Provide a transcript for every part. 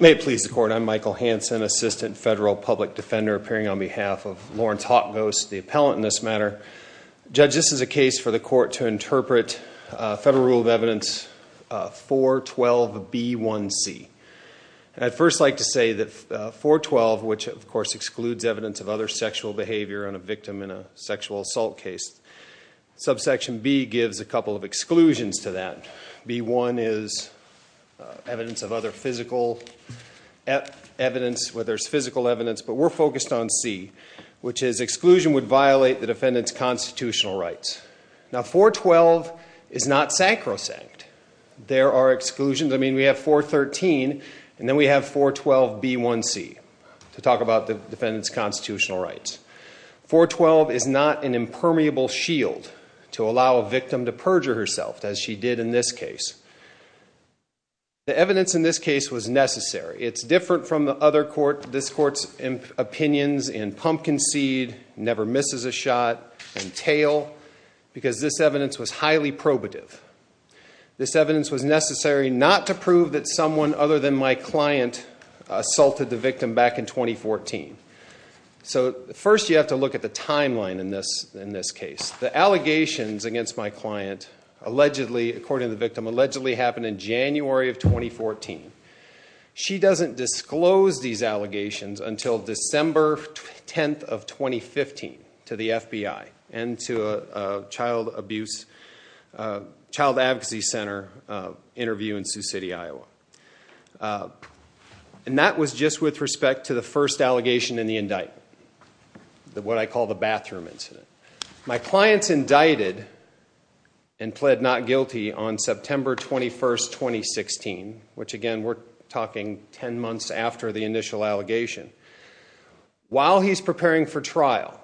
May it please the court, I'm Michael Hanson, Assistant Federal Public Defender, appearing on behalf of Lawrence Hawkghost, the appellant in this matter. Judge, this is a case for the court to interpret Federal Rule of Evidence 412B1C, and I'd first like to say that 412, which of course excludes evidence of other sexual behavior on a victim in a sexual assault case, subsection B gives a couple of exclusions to that. B1 is evidence of other physical evidence, where there's physical evidence, but we're focused on C, which is exclusion would violate the defendant's constitutional rights. Now 412 is not sacrosanct. There are exclusions. I mean, we have 413, and then we have 412B1C to talk about the defendant's constitutional rights. 412 is not an impermeable shield to allow a victim to perjure herself, as she did in this case. The evidence in this case was necessary. It's different from the other court, this court's opinions in Pumpkin Seed, Never Misses a Shot, and Tail, because this evidence was highly probative. This evidence was necessary not to prove that someone other than my client assaulted the victim back in 2014. So, first you have to look at the timeline in this case. The allegations against my client allegedly, according to the victim, allegedly happened in January of 2014. She doesn't disclose these allegations until December 10th of 2015 to the FBI and to a And that was just with respect to the first allegation in the indictment, what I call the bathroom incident. My client's indicted and pled not guilty on September 21st, 2016, which again, we're talking 10 months after the initial allegation. While he's preparing for trial,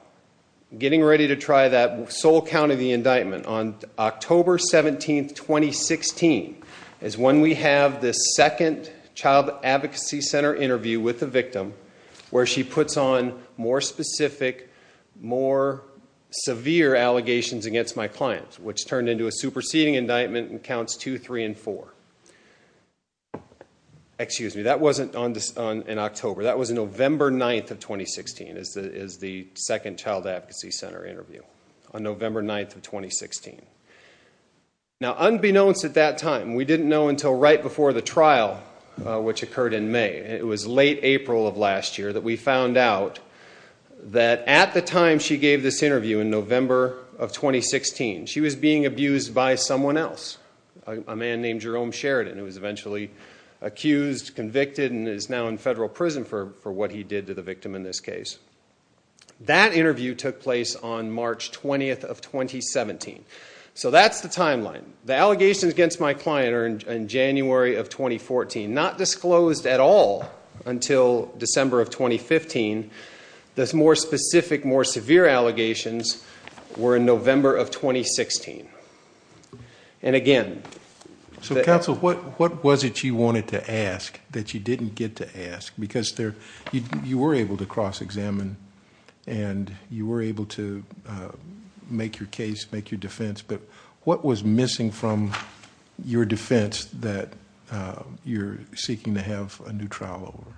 getting ready to try that sole count of the indictment on October 17th, 2016 is when we have this second Child Advocacy Center interview with the victim where she puts on more specific, more severe allegations against my client, which turned into a superseding indictment and counts 2, 3, and 4. That wasn't in October, that was November 9th of 2016, is the second Child Advocacy Center interview on November 9th of 2016. Now unbeknownst at that time, we didn't know until right before the trial, which occurred in May, it was late April of last year, that we found out that at the time she gave this interview in November of 2016, she was being abused by someone else, a man named Jerome Sheridan who was eventually accused, convicted, and is now in federal prison for what he did to the victim in this case. That interview took place on March 20th of 2017. So that's the timeline. The allegations against my client are in January of 2014, not disclosed at all until December of 2015. The more specific, more severe allegations were in November of 2016. And again... So counsel, what was it you wanted to ask that you didn't get to ask? Because you were able to cross-examine, and you were able to make your case, make your defense, but what was missing from your defense that you're seeking to have a new trial over?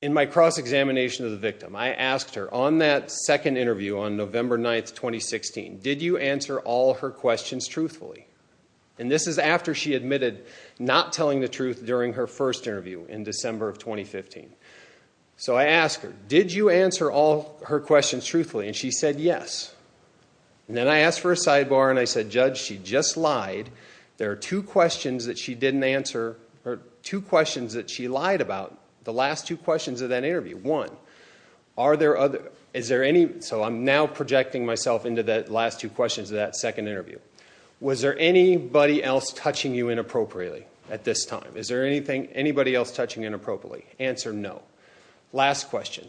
In my cross-examination of the victim, I asked her, on that second interview on November 9th, 2016, did you answer all her questions truthfully? And this is after she admitted not telling the truth during her first interview in December of 2015. So I asked her, did you answer all her questions truthfully? And she said yes. Then I asked for a sidebar, and I said, Judge, she just lied. There are two questions that she didn't answer, or two questions that she lied about, the last two questions of that interview. One, are there other... So I'm now projecting myself into the last two questions of that second interview. Was there anybody else touching you inappropriately at this time? Is there anybody else touching you inappropriately? Answer no. Last question,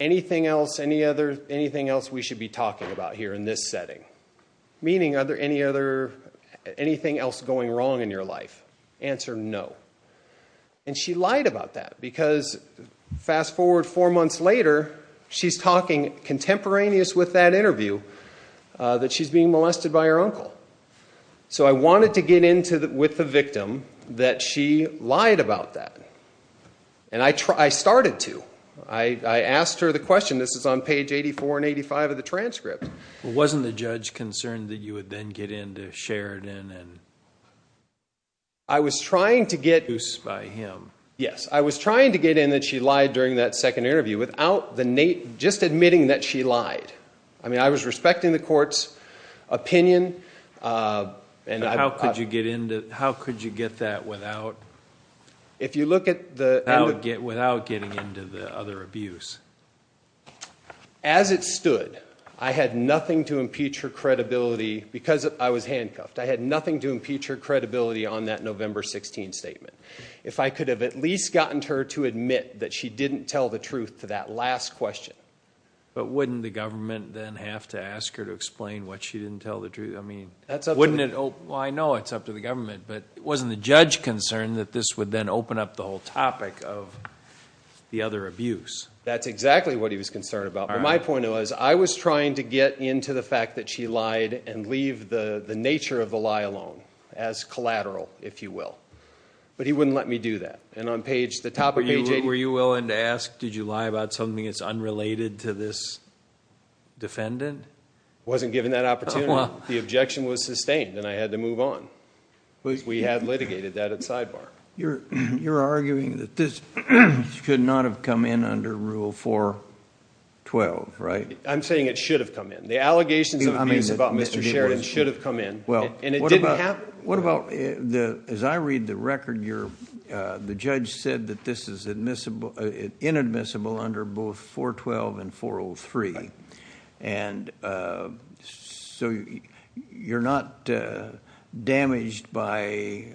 anything else we should be talking about here in this setting? Meaning anything else going wrong in your life? Answer no. And she lied about that, because fast forward four months later, she's talking contemporaneous with that interview, that she's being molested by her uncle. So I wanted to get into, with the victim, that she lied about that. And I started to. I asked her the question, this is on page 84 and 85 of the transcript. Wasn't the judge concerned that you would then get into Sheridan and... I was trying to get... ...by him. Yes. I was trying to get in that she lied during that second interview, without just admitting that she lied. I mean, I was respecting the court's opinion. And I... How could you get into... How could you get that without... If you look at the... Without getting into the other abuse. As it stood, I had nothing to impeach her credibility, because I was handcuffed. I had nothing to impeach her credibility on that November 16th statement. If I could have at least gotten her to admit that she didn't tell the truth to that last question. But wouldn't the government then have to ask her to explain why she didn't tell the truth? I mean... That's up to the... Wouldn't it... Well, I know it's up to the government, but wasn't the judge concerned that this would then open up the whole topic of the other abuse? That's exactly what he was concerned about. But my point was, I was trying to get into the fact that she lied and leave the nature of the lie alone, as collateral, if you will. But he wouldn't let me do that. And on page... The top of page 80... Were you willing to ask, did you lie about something that's unrelated to this defendant? Wasn't given that opportunity. The objection was sustained, and I had to move on. We had litigated that at sidebar. You're arguing that this could not have come in under Rule 412, right? I'm saying it should have come in. The allegations of abuse about Mr. Sheridan should have come in. Well... And it didn't happen. What about... As I read the record, the judge said that this is inadmissible under both 412 and 403. And so, you're not damaged by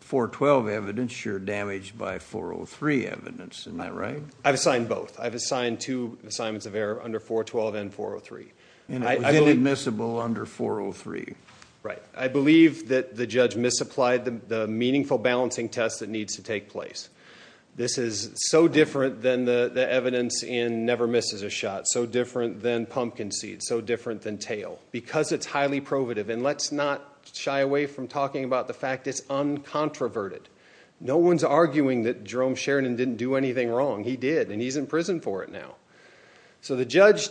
412 evidence, you're damaged by 403 evidence, am I right? I've assigned both. I've assigned two assignments of error under 412 and 403. And it was inadmissible under 403. Right. I believe that the judge misapplied the meaningful balancing test that needs to take place. This is so different than the evidence in Never Misses a Shot. So different than Pumpkin Seed. So different than Tail. Because it's highly probative. And let's not shy away from talking about the fact that it's uncontroverted. No one's arguing that Jerome Sheridan didn't do anything wrong. He did, and he's in prison for it now. So the judge,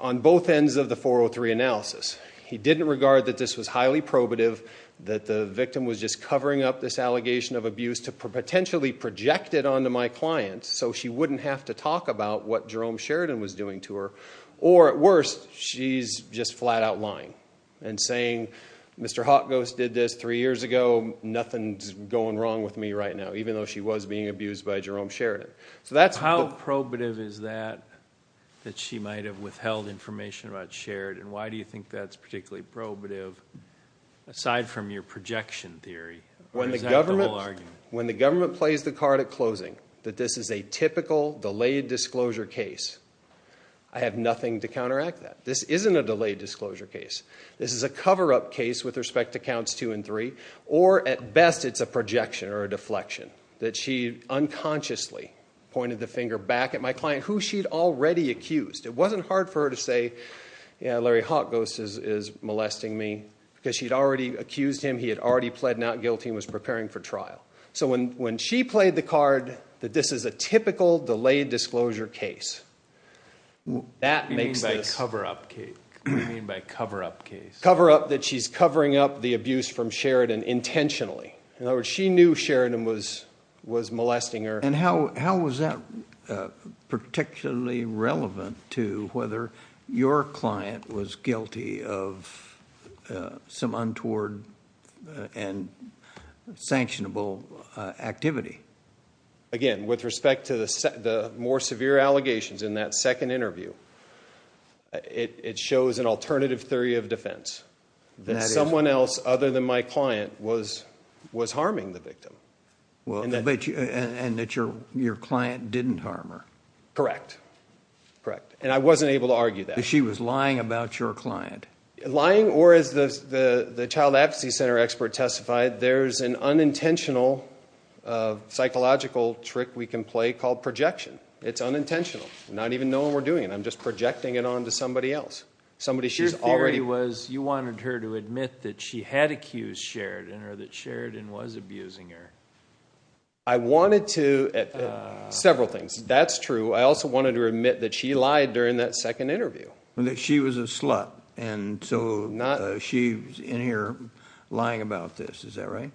on both ends of the 403 analysis... This was highly probative, that the victim was just covering up this allegation of abuse to potentially project it onto my client so she wouldn't have to talk about what Jerome Sheridan was doing to her. Or at worst, she's just flat out lying. And saying, Mr. Hot Ghost did this three years ago, nothing's going wrong with me right now. Even though she was being abused by Jerome Sheridan. So that's... And why do you think that's particularly probative, aside from your projection theory? Or is that the whole argument? When the government plays the card at closing, that this is a typical, delayed disclosure case, I have nothing to counteract that. This isn't a delayed disclosure case. This is a cover-up case with respect to counts two and three. Or at best, it's a projection or a deflection. That she unconsciously pointed the finger back at my client, who she'd already accused. It wasn't hard for her to say, yeah, Larry Hot Ghost is molesting me, because she'd already accused him, he had already pled not guilty, and was preparing for trial. So when she played the card that this is a typical, delayed disclosure case, that makes this... What do you mean by cover-up case? What do you mean by cover-up case? Cover-up, that she's covering up the abuse from Sheridan intentionally. In other words, she knew Sheridan was molesting her. And how is that particularly relevant to whether your client was guilty of some untoward and sanctionable activity? Again, with respect to the more severe allegations in that second interview, it shows an alternative theory of defense. That someone else, other than my client, was harming the victim. And that your client didn't harm her. Correct. Correct. And I wasn't able to argue that. That she was lying about your client. Lying, or as the child advocacy center expert testified, there's an unintentional psychological trick we can play called projection. It's unintentional. Not even knowing we're doing it. I'm just projecting it onto somebody else. Somebody she's already... Your theory was, you wanted her to admit that she had accused Sheridan, or that Sheridan was abusing her. I wanted to... Several things. That's true. I also wanted to admit that she lied during that second interview. She was a slut, and so she's in here lying about this. Is that right?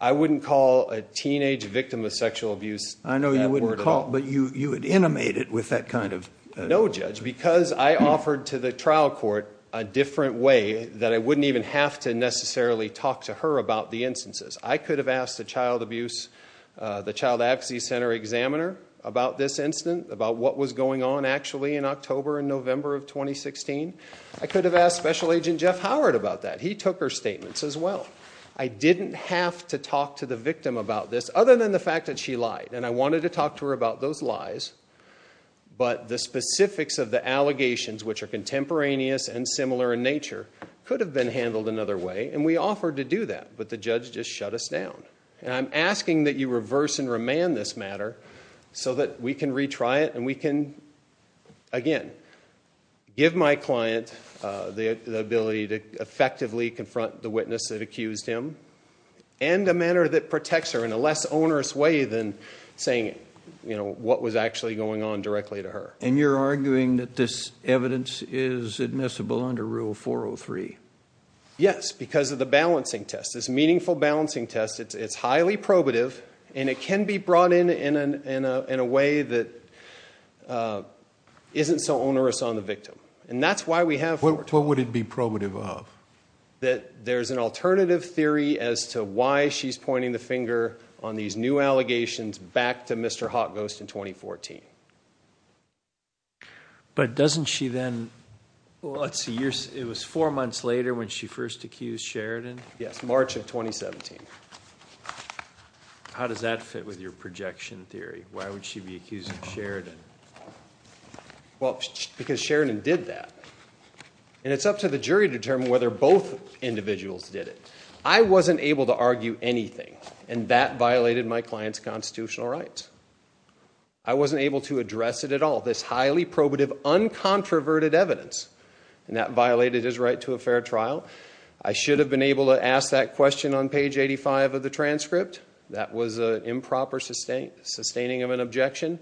I wouldn't call a teenage victim of sexual abuse that word at all. I know you wouldn't call, but you would animate it with that kind of... No, Judge. Because I offered to the trial court a different way that I wouldn't even have to necessarily talk to her about the instances. I could have asked the child abuse... The child advocacy center examiner about this incident, about what was going on actually in October and November of 2016. I could have asked Special Agent Jeff Howard about that. He took her statements as well. I didn't have to talk to the victim about this, other than the fact that she lied. I wanted to talk to her about those lies, but the specifics of the allegations, which are contemporaneous and similar in nature, could have been handled another way. We offered to do that, but the judge just shut us down. I'm asking that you reverse and remand this matter so that we can retry it, and we can, again, give my client the ability to effectively confront the witness that accused him, and a manner that protects her in a less onerous way than saying what was actually going on directly to her. And you're arguing that this evidence is admissible under Rule 403? Yes, because of the balancing test. This meaningful balancing test, it's highly probative, and it can be brought in in a way that isn't so onerous on the victim. And that's why we have... What would it be probative of? That there's an alternative theory as to why she's pointing the finger on these new allegations back to Mr. Hot Ghost in 2014. But doesn't she then... Well, let's see. It was four months later when she first accused Sheridan? Yes, March of 2017. How does that fit with your projection theory? Why would she be accusing Sheridan? Well, because Sheridan did that. And it's up to the jury to determine whether both individuals did it. I wasn't able to argue anything, and that violated my client's constitutional rights. I wasn't able to address it at all, this highly probative, uncontroverted evidence. And that violated his right to a fair trial. I should have been able to ask that question on page 85 of the transcript. That was an improper sustaining of an objection.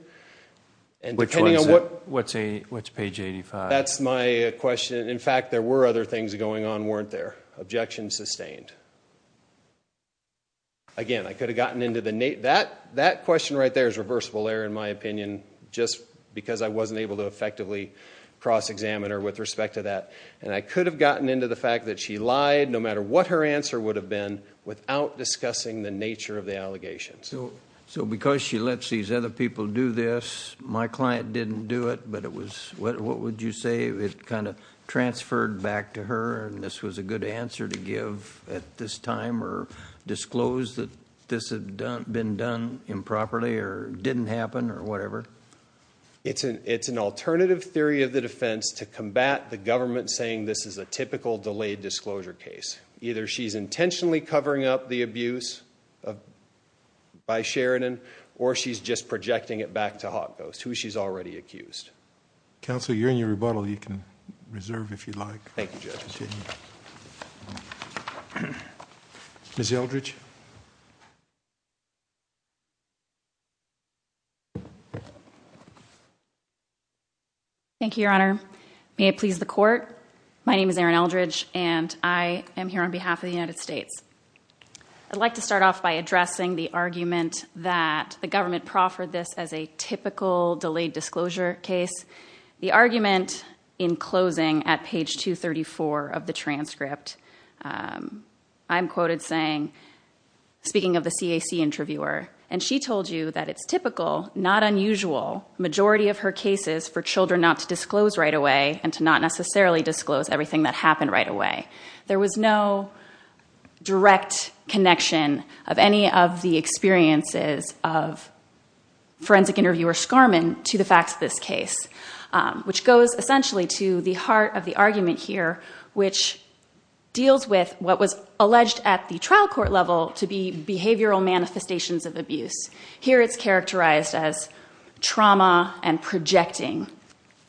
Which one, sir? What's page 85? That's my question. In fact, there were other things going on, weren't there? Objection sustained. Again, I could have gotten into the... That question right there is reversible error, in my opinion, just because I wasn't able to effectively cross-examine her with respect to that. And I could have gotten into the fact that she lied, no matter what her answer would have been, without discussing the nature of the allegations. So because she lets these other people do this, my client didn't do it, but it was... What would you say it kind of transferred back to her, and this was a good answer to give at this time, or disclose that this had been done improperly, or didn't happen, or whatever? It's an alternative theory of the defense to combat the government saying this is a typical delayed disclosure case. Either she's intentionally covering up the abuse by Sheridan, or she's just projecting it back to Hot Ghost, who she's already accused. Counsel, you're in your rebuttal. You can reserve, if you'd like. Thank you, Judge. Ms. Eldridge? Thank you, Your Honor. May it please the Court. My name is Erin Eldridge, and I am here on behalf of the United States. I'd like to start off by addressing the argument that the government proffered this as a typical delayed disclosure case. The argument, in closing, at page 234 of the transcript, I'm quoted saying, speaking of the CAC interviewer, and she told you that it's typical, not unusual, majority of her cases for children not to disclose right away, and to not necessarily disclose everything that happened right away. There was no direct connection of any of the experiences of forensic interviewer Skarman to the facts of this case, which goes essentially to the heart of the argument here, which deals with what was alleged at the trial court level to be behavioral manifestations of abuse. Here, it's characterized as trauma and projecting.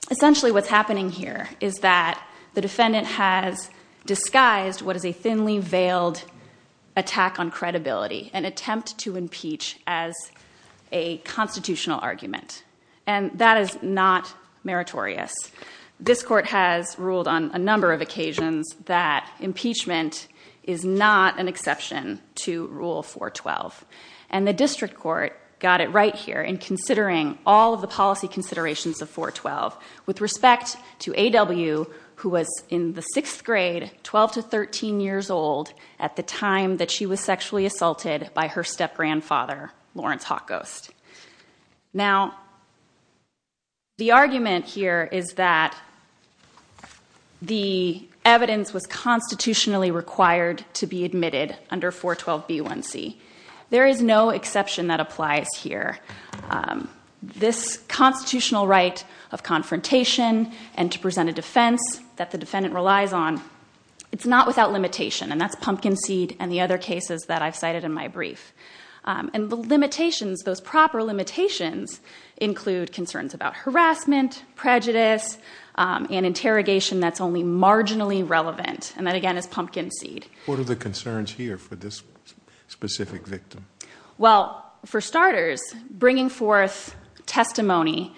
Essentially, what's happening here is that the defendant has disguised what is a thinly-veiled attack on credibility, an attempt to impeach as a constitutional argument, and that is not meritorious. This court has ruled on a number of occasions that impeachment is not an exception to Rule 412, and the district court got it right here in considering all of the policy considerations of 412 with respect to A.W., who was in the sixth grade, 12 to 13 years old, at the time that she was sexually assaulted by her step-grandfather, Lawrence Hawk Ghost. Now, the argument here is that the evidence was constitutionally required to be admitted under 412b1c. There is no exception that applies here. This constitutional right of confrontation and to present a defense that the defendant relies on, it's not without limitation, and that's pumpkin seed and the other cases that I've cited in my brief. And the limitations, those proper limitations, include concerns about harassment, prejudice, and interrogation that's only marginally relevant, and that, again, is pumpkin seed. What are the concerns here for this specific victim? Well, for starters, bringing forth testimony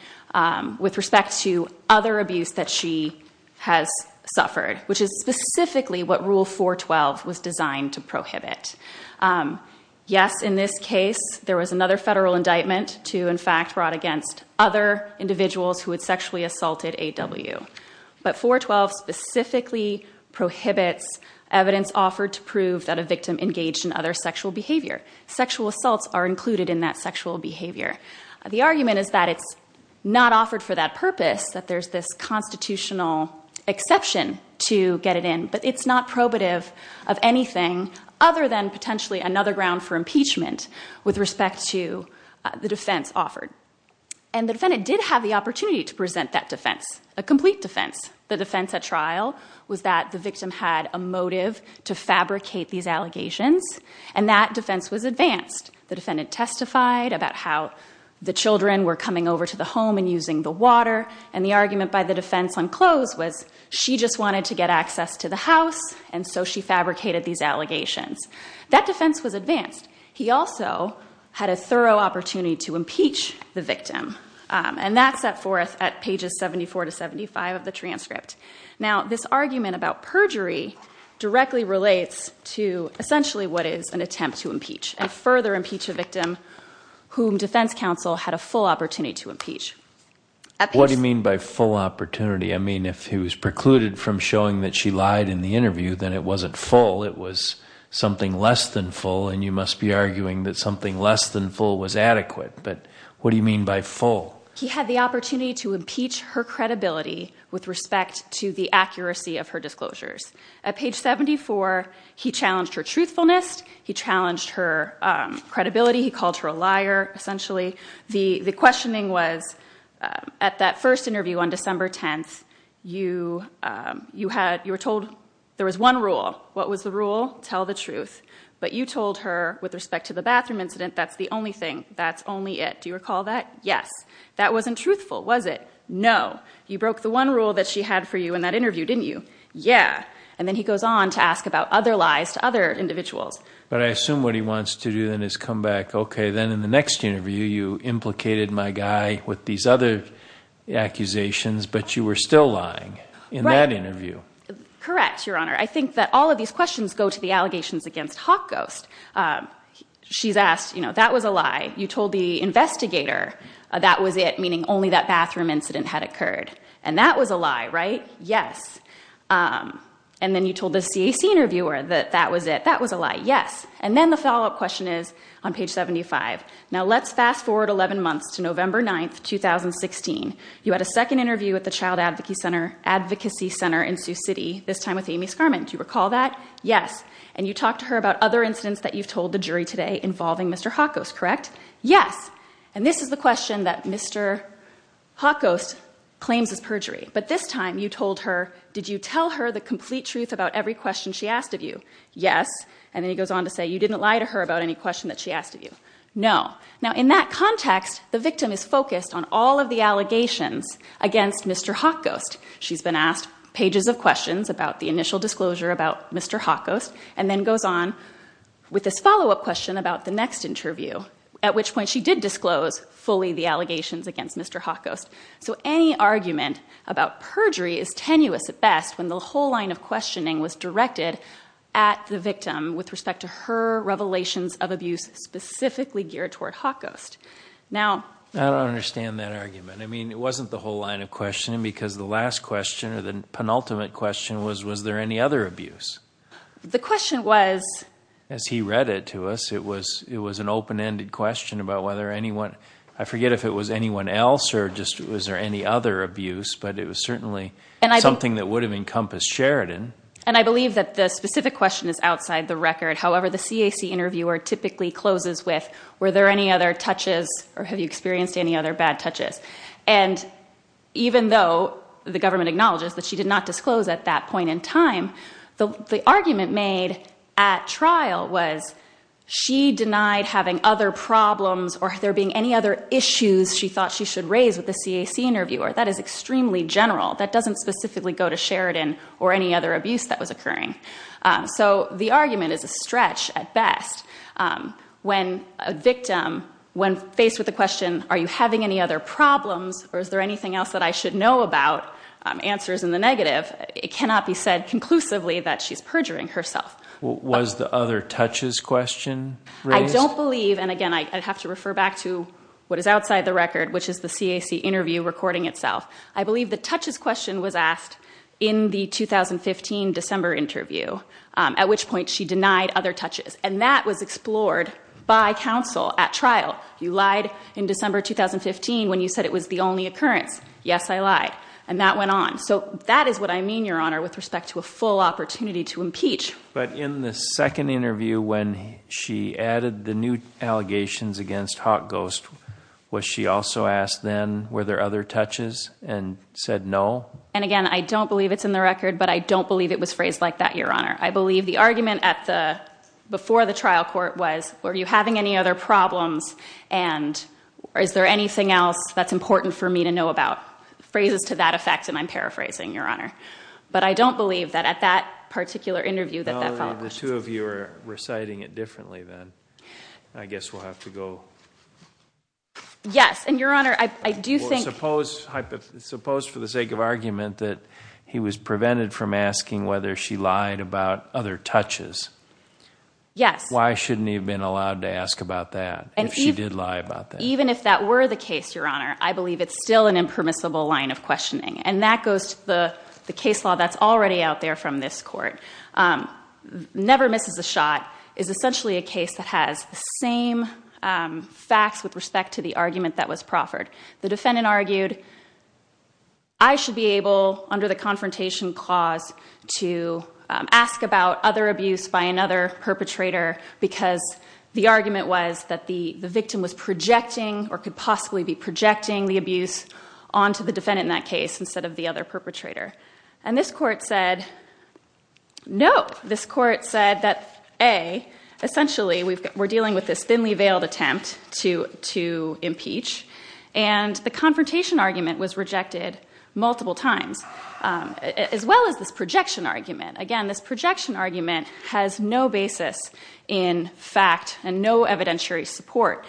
with respect to other abuse that she has suffered, which is specifically what Rule 412 was designed to prohibit. Yes, in this case, there was another federal indictment to, in fact, brought against other individuals who had sexually assaulted A.W., but 412 specifically prohibits evidence offered to prove that a victim engaged in other sexual behavior. Sexual assaults are included in that sexual behavior. The argument is that it's not offered for that purpose, that there's this constitutional exception to get it in, but it's not probative of anything other than potentially another ground for impeachment with respect to the defense offered. And the defendant did have the opportunity to present that defense, a complete defense. The defense at trial was that the victim had a motive to fabricate these allegations, and that defense was advanced. The defendant testified about how the children were coming over to the home and using the water, and the argument by the defense on close was she just wanted to get access to the house, and so she fabricated these allegations. That defense was advanced. He also had a thorough opportunity to impeach the victim, and that's set forth at pages 74 to 75 of the transcript. Now, this argument about perjury directly relates to essentially what is an attempt to impeach, and further impeach a victim whom defense counsel had a full opportunity to impeach. What do you mean by full opportunity? I mean, if he was precluded from showing that she lied in the interview, then it wasn't full. It was something less than full, and you must be arguing that something less than full was adequate. But what do you mean by full? He had the opportunity to impeach her credibility with respect to the accuracy of her disclosures. At page 74, he challenged her truthfulness. He challenged her credibility. He called her a liar, essentially. The questioning was, at that first interview on December 10th, you were told there was one rule. What was the rule? Tell the truth. But you told her, with respect to the bathroom incident, that's the only thing. That's only it. Do you recall that? Yes. That wasn't truthful, was it? No. You broke the one rule that she had for you in that interview, didn't you? Yeah. And then he goes on to ask about other lies to other individuals. But I assume what he wants to do then is come back, OK, then in the next interview, you implicated my guy with these other accusations. But you were still lying in that interview. Correct, Your Honor. I think that all of these questions go to the allegations against Hawk Ghost. She's asked, that was a lie. You told the investigator that was it, meaning only that bathroom incident had occurred. And that was a lie, right? Yes. And then you told the CAC interviewer that that was it. That was a lie. Yes. And then the follow-up question is on page 75. Now let's fast forward 11 months to November 9, 2016. You had a second interview at the Child Advocacy Center in Sioux City, this time with Amy Scarman. Do you recall that? Yes. And you talked to her about other incidents that you've told the jury today involving Mr. Hawk Ghost, correct? Yes. And this is the question that Mr. Hawk Ghost claims is perjury. But this time, you told her, did you tell her the complete truth about every question she asked of you? Yes. And then he goes on to say, you didn't lie to her about any question that she asked of you. No. Now in that context, the victim is focused on all of the allegations against Mr. Hawk Ghost. She's been asked pages of questions about the initial disclosure about Mr. Hawk Ghost, and then goes on with this follow-up question about the next interview, at which point she did disclose fully the allegations against Mr. Hawk Ghost. So any argument about perjury is tenuous at best when the whole line of questioning was directed at the victim with respect to her revelations of abuse specifically geared toward Hawk Ghost. Now, I don't understand that argument. I mean, it wasn't the whole line of questioning, because the last question, or the penultimate question, was, was there any other abuse? The question was, as he read it to us, it was an open-ended question about whether anyone, I forget if it was anyone else, or just was there any other abuse, but it was certainly something that would have encompassed Sheridan. And I believe that the specific question is outside the record. However, the CAC interviewer typically closes with, were there any other touches, or have you experienced any other bad touches? And even though the government acknowledges that she did not disclose at that point in time, the argument made at trial was, she denied having other problems, or there being any other issues she thought she should raise with the CAC interviewer. That is extremely general. That doesn't specifically go to Sheridan, or any other abuse that was occurring. So the argument is a stretch at best. When a victim, when faced with the question, are you having any other problems, or is there anything else that I should know about, answers in the negative, it cannot be said conclusively that she's perjuring herself. Was the other touches question raised? I don't believe, and again, I have to refer back to what is outside the record, which is the CAC interview recording itself. I believe the touches question was At which point, she denied other touches. And that was explored by counsel at trial. You lied in December 2015, when you said it was the only occurrence. Yes, I lied. And that went on. So that is what I mean, Your Honor, with respect to a full opportunity to impeach. But in the second interview, when she added the new allegations against Hot Ghost, was she also asked then, were there other touches, and said no? And again, I don't believe it's in the record, but I don't believe it was phrased like that, Your Honor. I believe the argument before the trial court was, were you having any other problems, and is there anything else that's important for me to know about. Phrases to that effect, and I'm paraphrasing, Your Honor. But I don't believe that at that particular interview that that followed. The two of you are reciting it differently, then. I guess we'll have to go. Yes, and Your Honor, I do think. Suppose for the sake of argument that he was prevented from asking whether she lied about other touches. Yes. Why shouldn't he have been allowed to ask about that, if she did lie about that? Even if that were the case, Your Honor, I believe it's still an impermissible line of questioning. And that goes to the case law that's already out there from this court. Never Misses a Shot is essentially a case that has the same facts with respect to the argument that was proffered. The defendant argued, I should be to ask about other abuse by another perpetrator, because the argument was that the victim was projecting, or could possibly be projecting, the abuse onto the defendant in that case, instead of the other perpetrator. And this court said, no. This court said that A, essentially, we're dealing with this thinly veiled attempt to impeach. And the confrontation argument was rejected multiple times. As well as this projection argument. Again, this projection argument has no basis in fact, and no evidentiary support.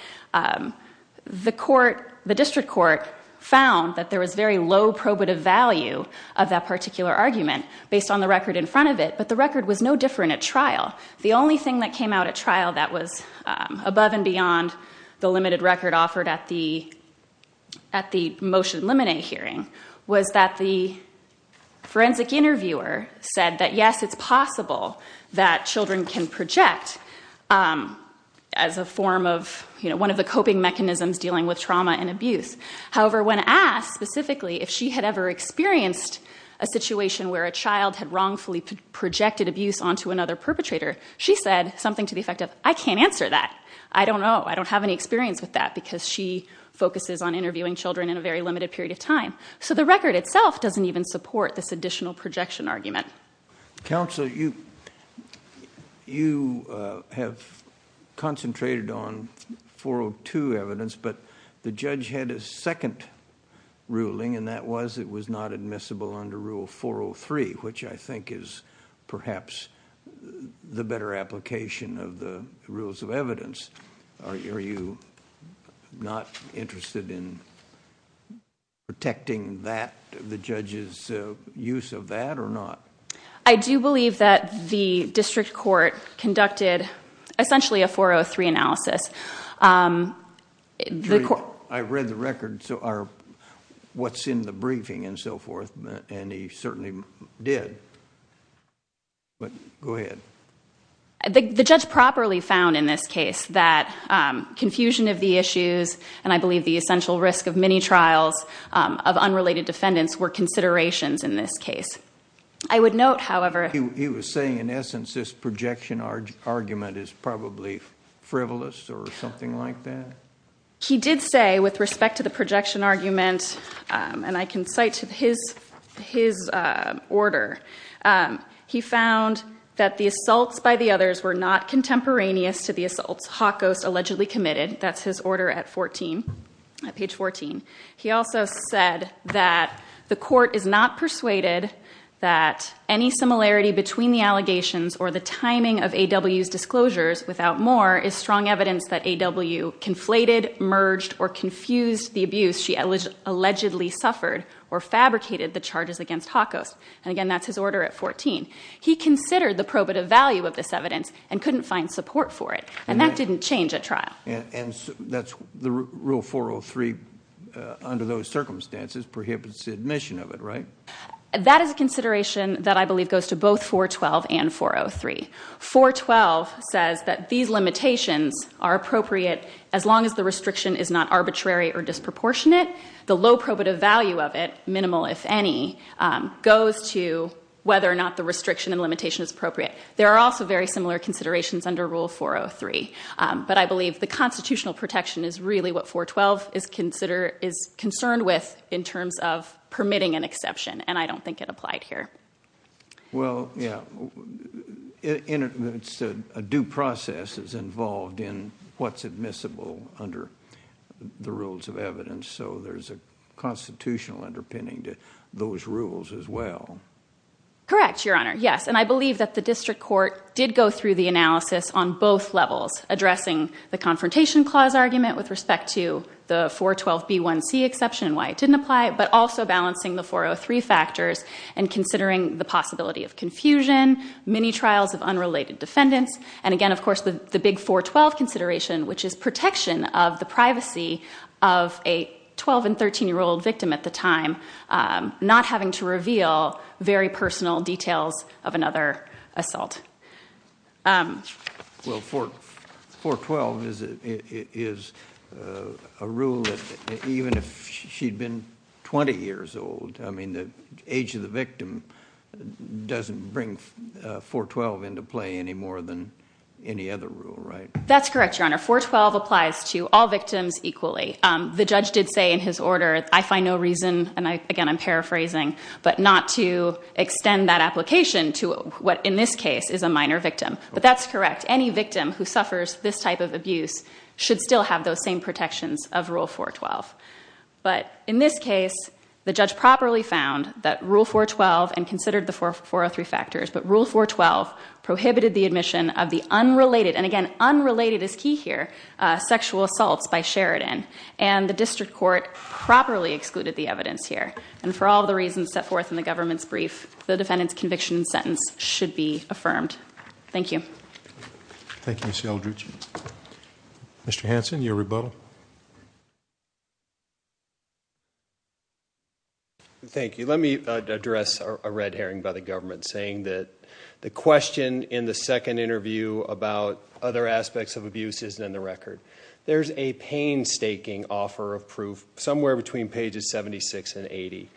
The district court found that there was very low probative value of that particular argument, based on the record in front of it. But the record was no different at trial. The only thing that came out at trial that was above and beyond the limited record offered at the motion limine hearing, was that the forensic interviewer said that yes, it's possible that children can project as a form of one of the coping mechanisms dealing with trauma and abuse. However, when asked specifically if she had ever experienced a situation where a child had wrongfully projected abuse onto another perpetrator, she said something to the effect of, I can't answer that. I don't know. I don't have any experience with that, because she focuses on interviewing children in a very limited period of time. So the record itself doesn't even support this additional projection argument. Counsel, you have concentrated on 402 evidence, but the judge had a second ruling, and that was it was not admissible under rule 403, which I think is perhaps the better application of the rules of evidence. Are you not interested in protecting the judge's use of that or not? I do believe that the district court conducted essentially a 403 analysis. I read the record, so what's in the briefing and so forth, and he certainly did. But go ahead. The judge properly found in this case that confusion of the issues, and I believe the essential risk of many trials of unrelated defendants, were considerations in this case. I would note, however, He was saying, in essence, this projection argument is probably frivolous or something like that? He did say, with respect to the projection argument, and I can cite his order, he found that the assaults by the others were not contemporaneous to the assaults Hawkost allegedly committed. That's his order at page 14. He also said that the court is not persuaded that any similarity between the allegations or the timing of AW's disclosures without more is strong evidence that AW conflated, merged, or confused the abuse. She allegedly suffered or fabricated the charges against Hawkost. And again, that's his order at 14. He considered the probative value of this evidence and couldn't find support for it, and that didn't change at trial. And that's the rule 403 under those circumstances prohibits admission of it, right? That is a consideration that I believe goes to both 412 and 403. 412 says that these limitations are appropriate as long as the restriction is not in it. The low probative value of it, minimal if any, goes to whether or not the restriction and limitation is appropriate. There are also very similar considerations under rule 403, but I believe the constitutional protection is really what 412 is concerned with in terms of permitting an exception, and I don't think it applied here. Well, yeah, a due process is involved in what's admissible under the rules of evidence. So there's a constitutional underpinning to those rules as well. Correct, Your Honor. Yes, and I believe that the district court did go through the analysis on both levels, addressing the confrontation clause argument with respect to the 412B1C exception and why it didn't apply, but also balancing the 403 factors and considering the possibility of confusion, many trials of unrelated defendants, and again, of course, the big 412 consideration, which is protection of the privacy of a 12- and 13-year-old victim at the time, not having to reveal very personal details of another assault. Well, 412 is a rule that even if she'd been 20 years old, I mean, the age of the victim doesn't bring 412 into play any more than any other rule, right? That's correct, Your Honor. 412 applies to all victims equally. The judge did say in his order, I find no reason, and again, I'm paraphrasing, but not to extend that application to what, in this case, is a minor victim. But that's correct. Any victim who suffers this type of abuse should still have those same protections of Rule 412. But in this case, the judge properly found that Rule 412 and considered the 403 factors, but Rule 412 prohibited the admission of the unrelated, and again, unrelated is key here, sexual assaults by Sheridan. And the district court properly excluded the evidence here. And for all the reasons set forth in the government's brief, the defendant's conviction sentence should be affirmed. Thank you. Thank you, Ms. Eldridge. Mr. Hanson, your rebuttal. Thank you. Let me address a red herring by the government saying that the question in the second interview about other aspects of abuse isn't in the record. There's a painstaking offer of proof somewhere between pages 76 and 80,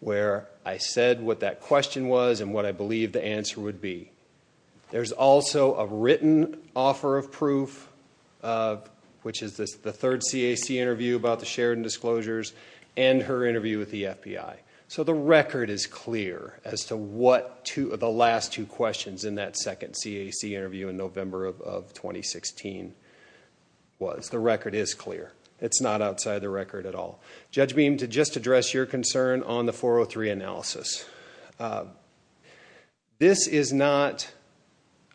where I said what that question was and what I believe the answer would be. There's also a written offer of proof, which is the third CAC interview about the Sheridan disclosures and her interview with the FBI. So the record is clear as to the last two questions in that second CAC interview in November of 2016 was. The record is clear. It's not outside the record at all. Judge Beam, to just address your concern on the 403 analysis. This is not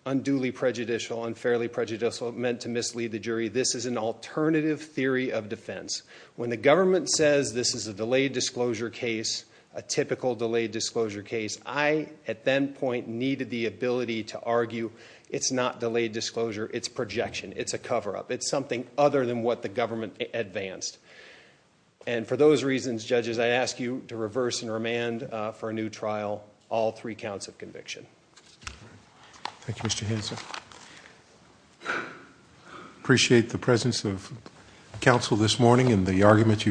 unduly prejudicial, unfairly prejudicial, meant to mislead the jury. This is an alternative theory of defense. When the government says this is a delayed disclosure case, a typical delayed disclosure case, I, at that point, needed the ability to argue it's not delayed disclosure. It's projection. It's a cover-up. It's something other than what the government advanced. And for those reasons, judges, I ask you to reverse and remand for a new trial, all three counts of conviction. Thank you, Mr. Hanson. Appreciate the presence of counsel this morning and the argument you.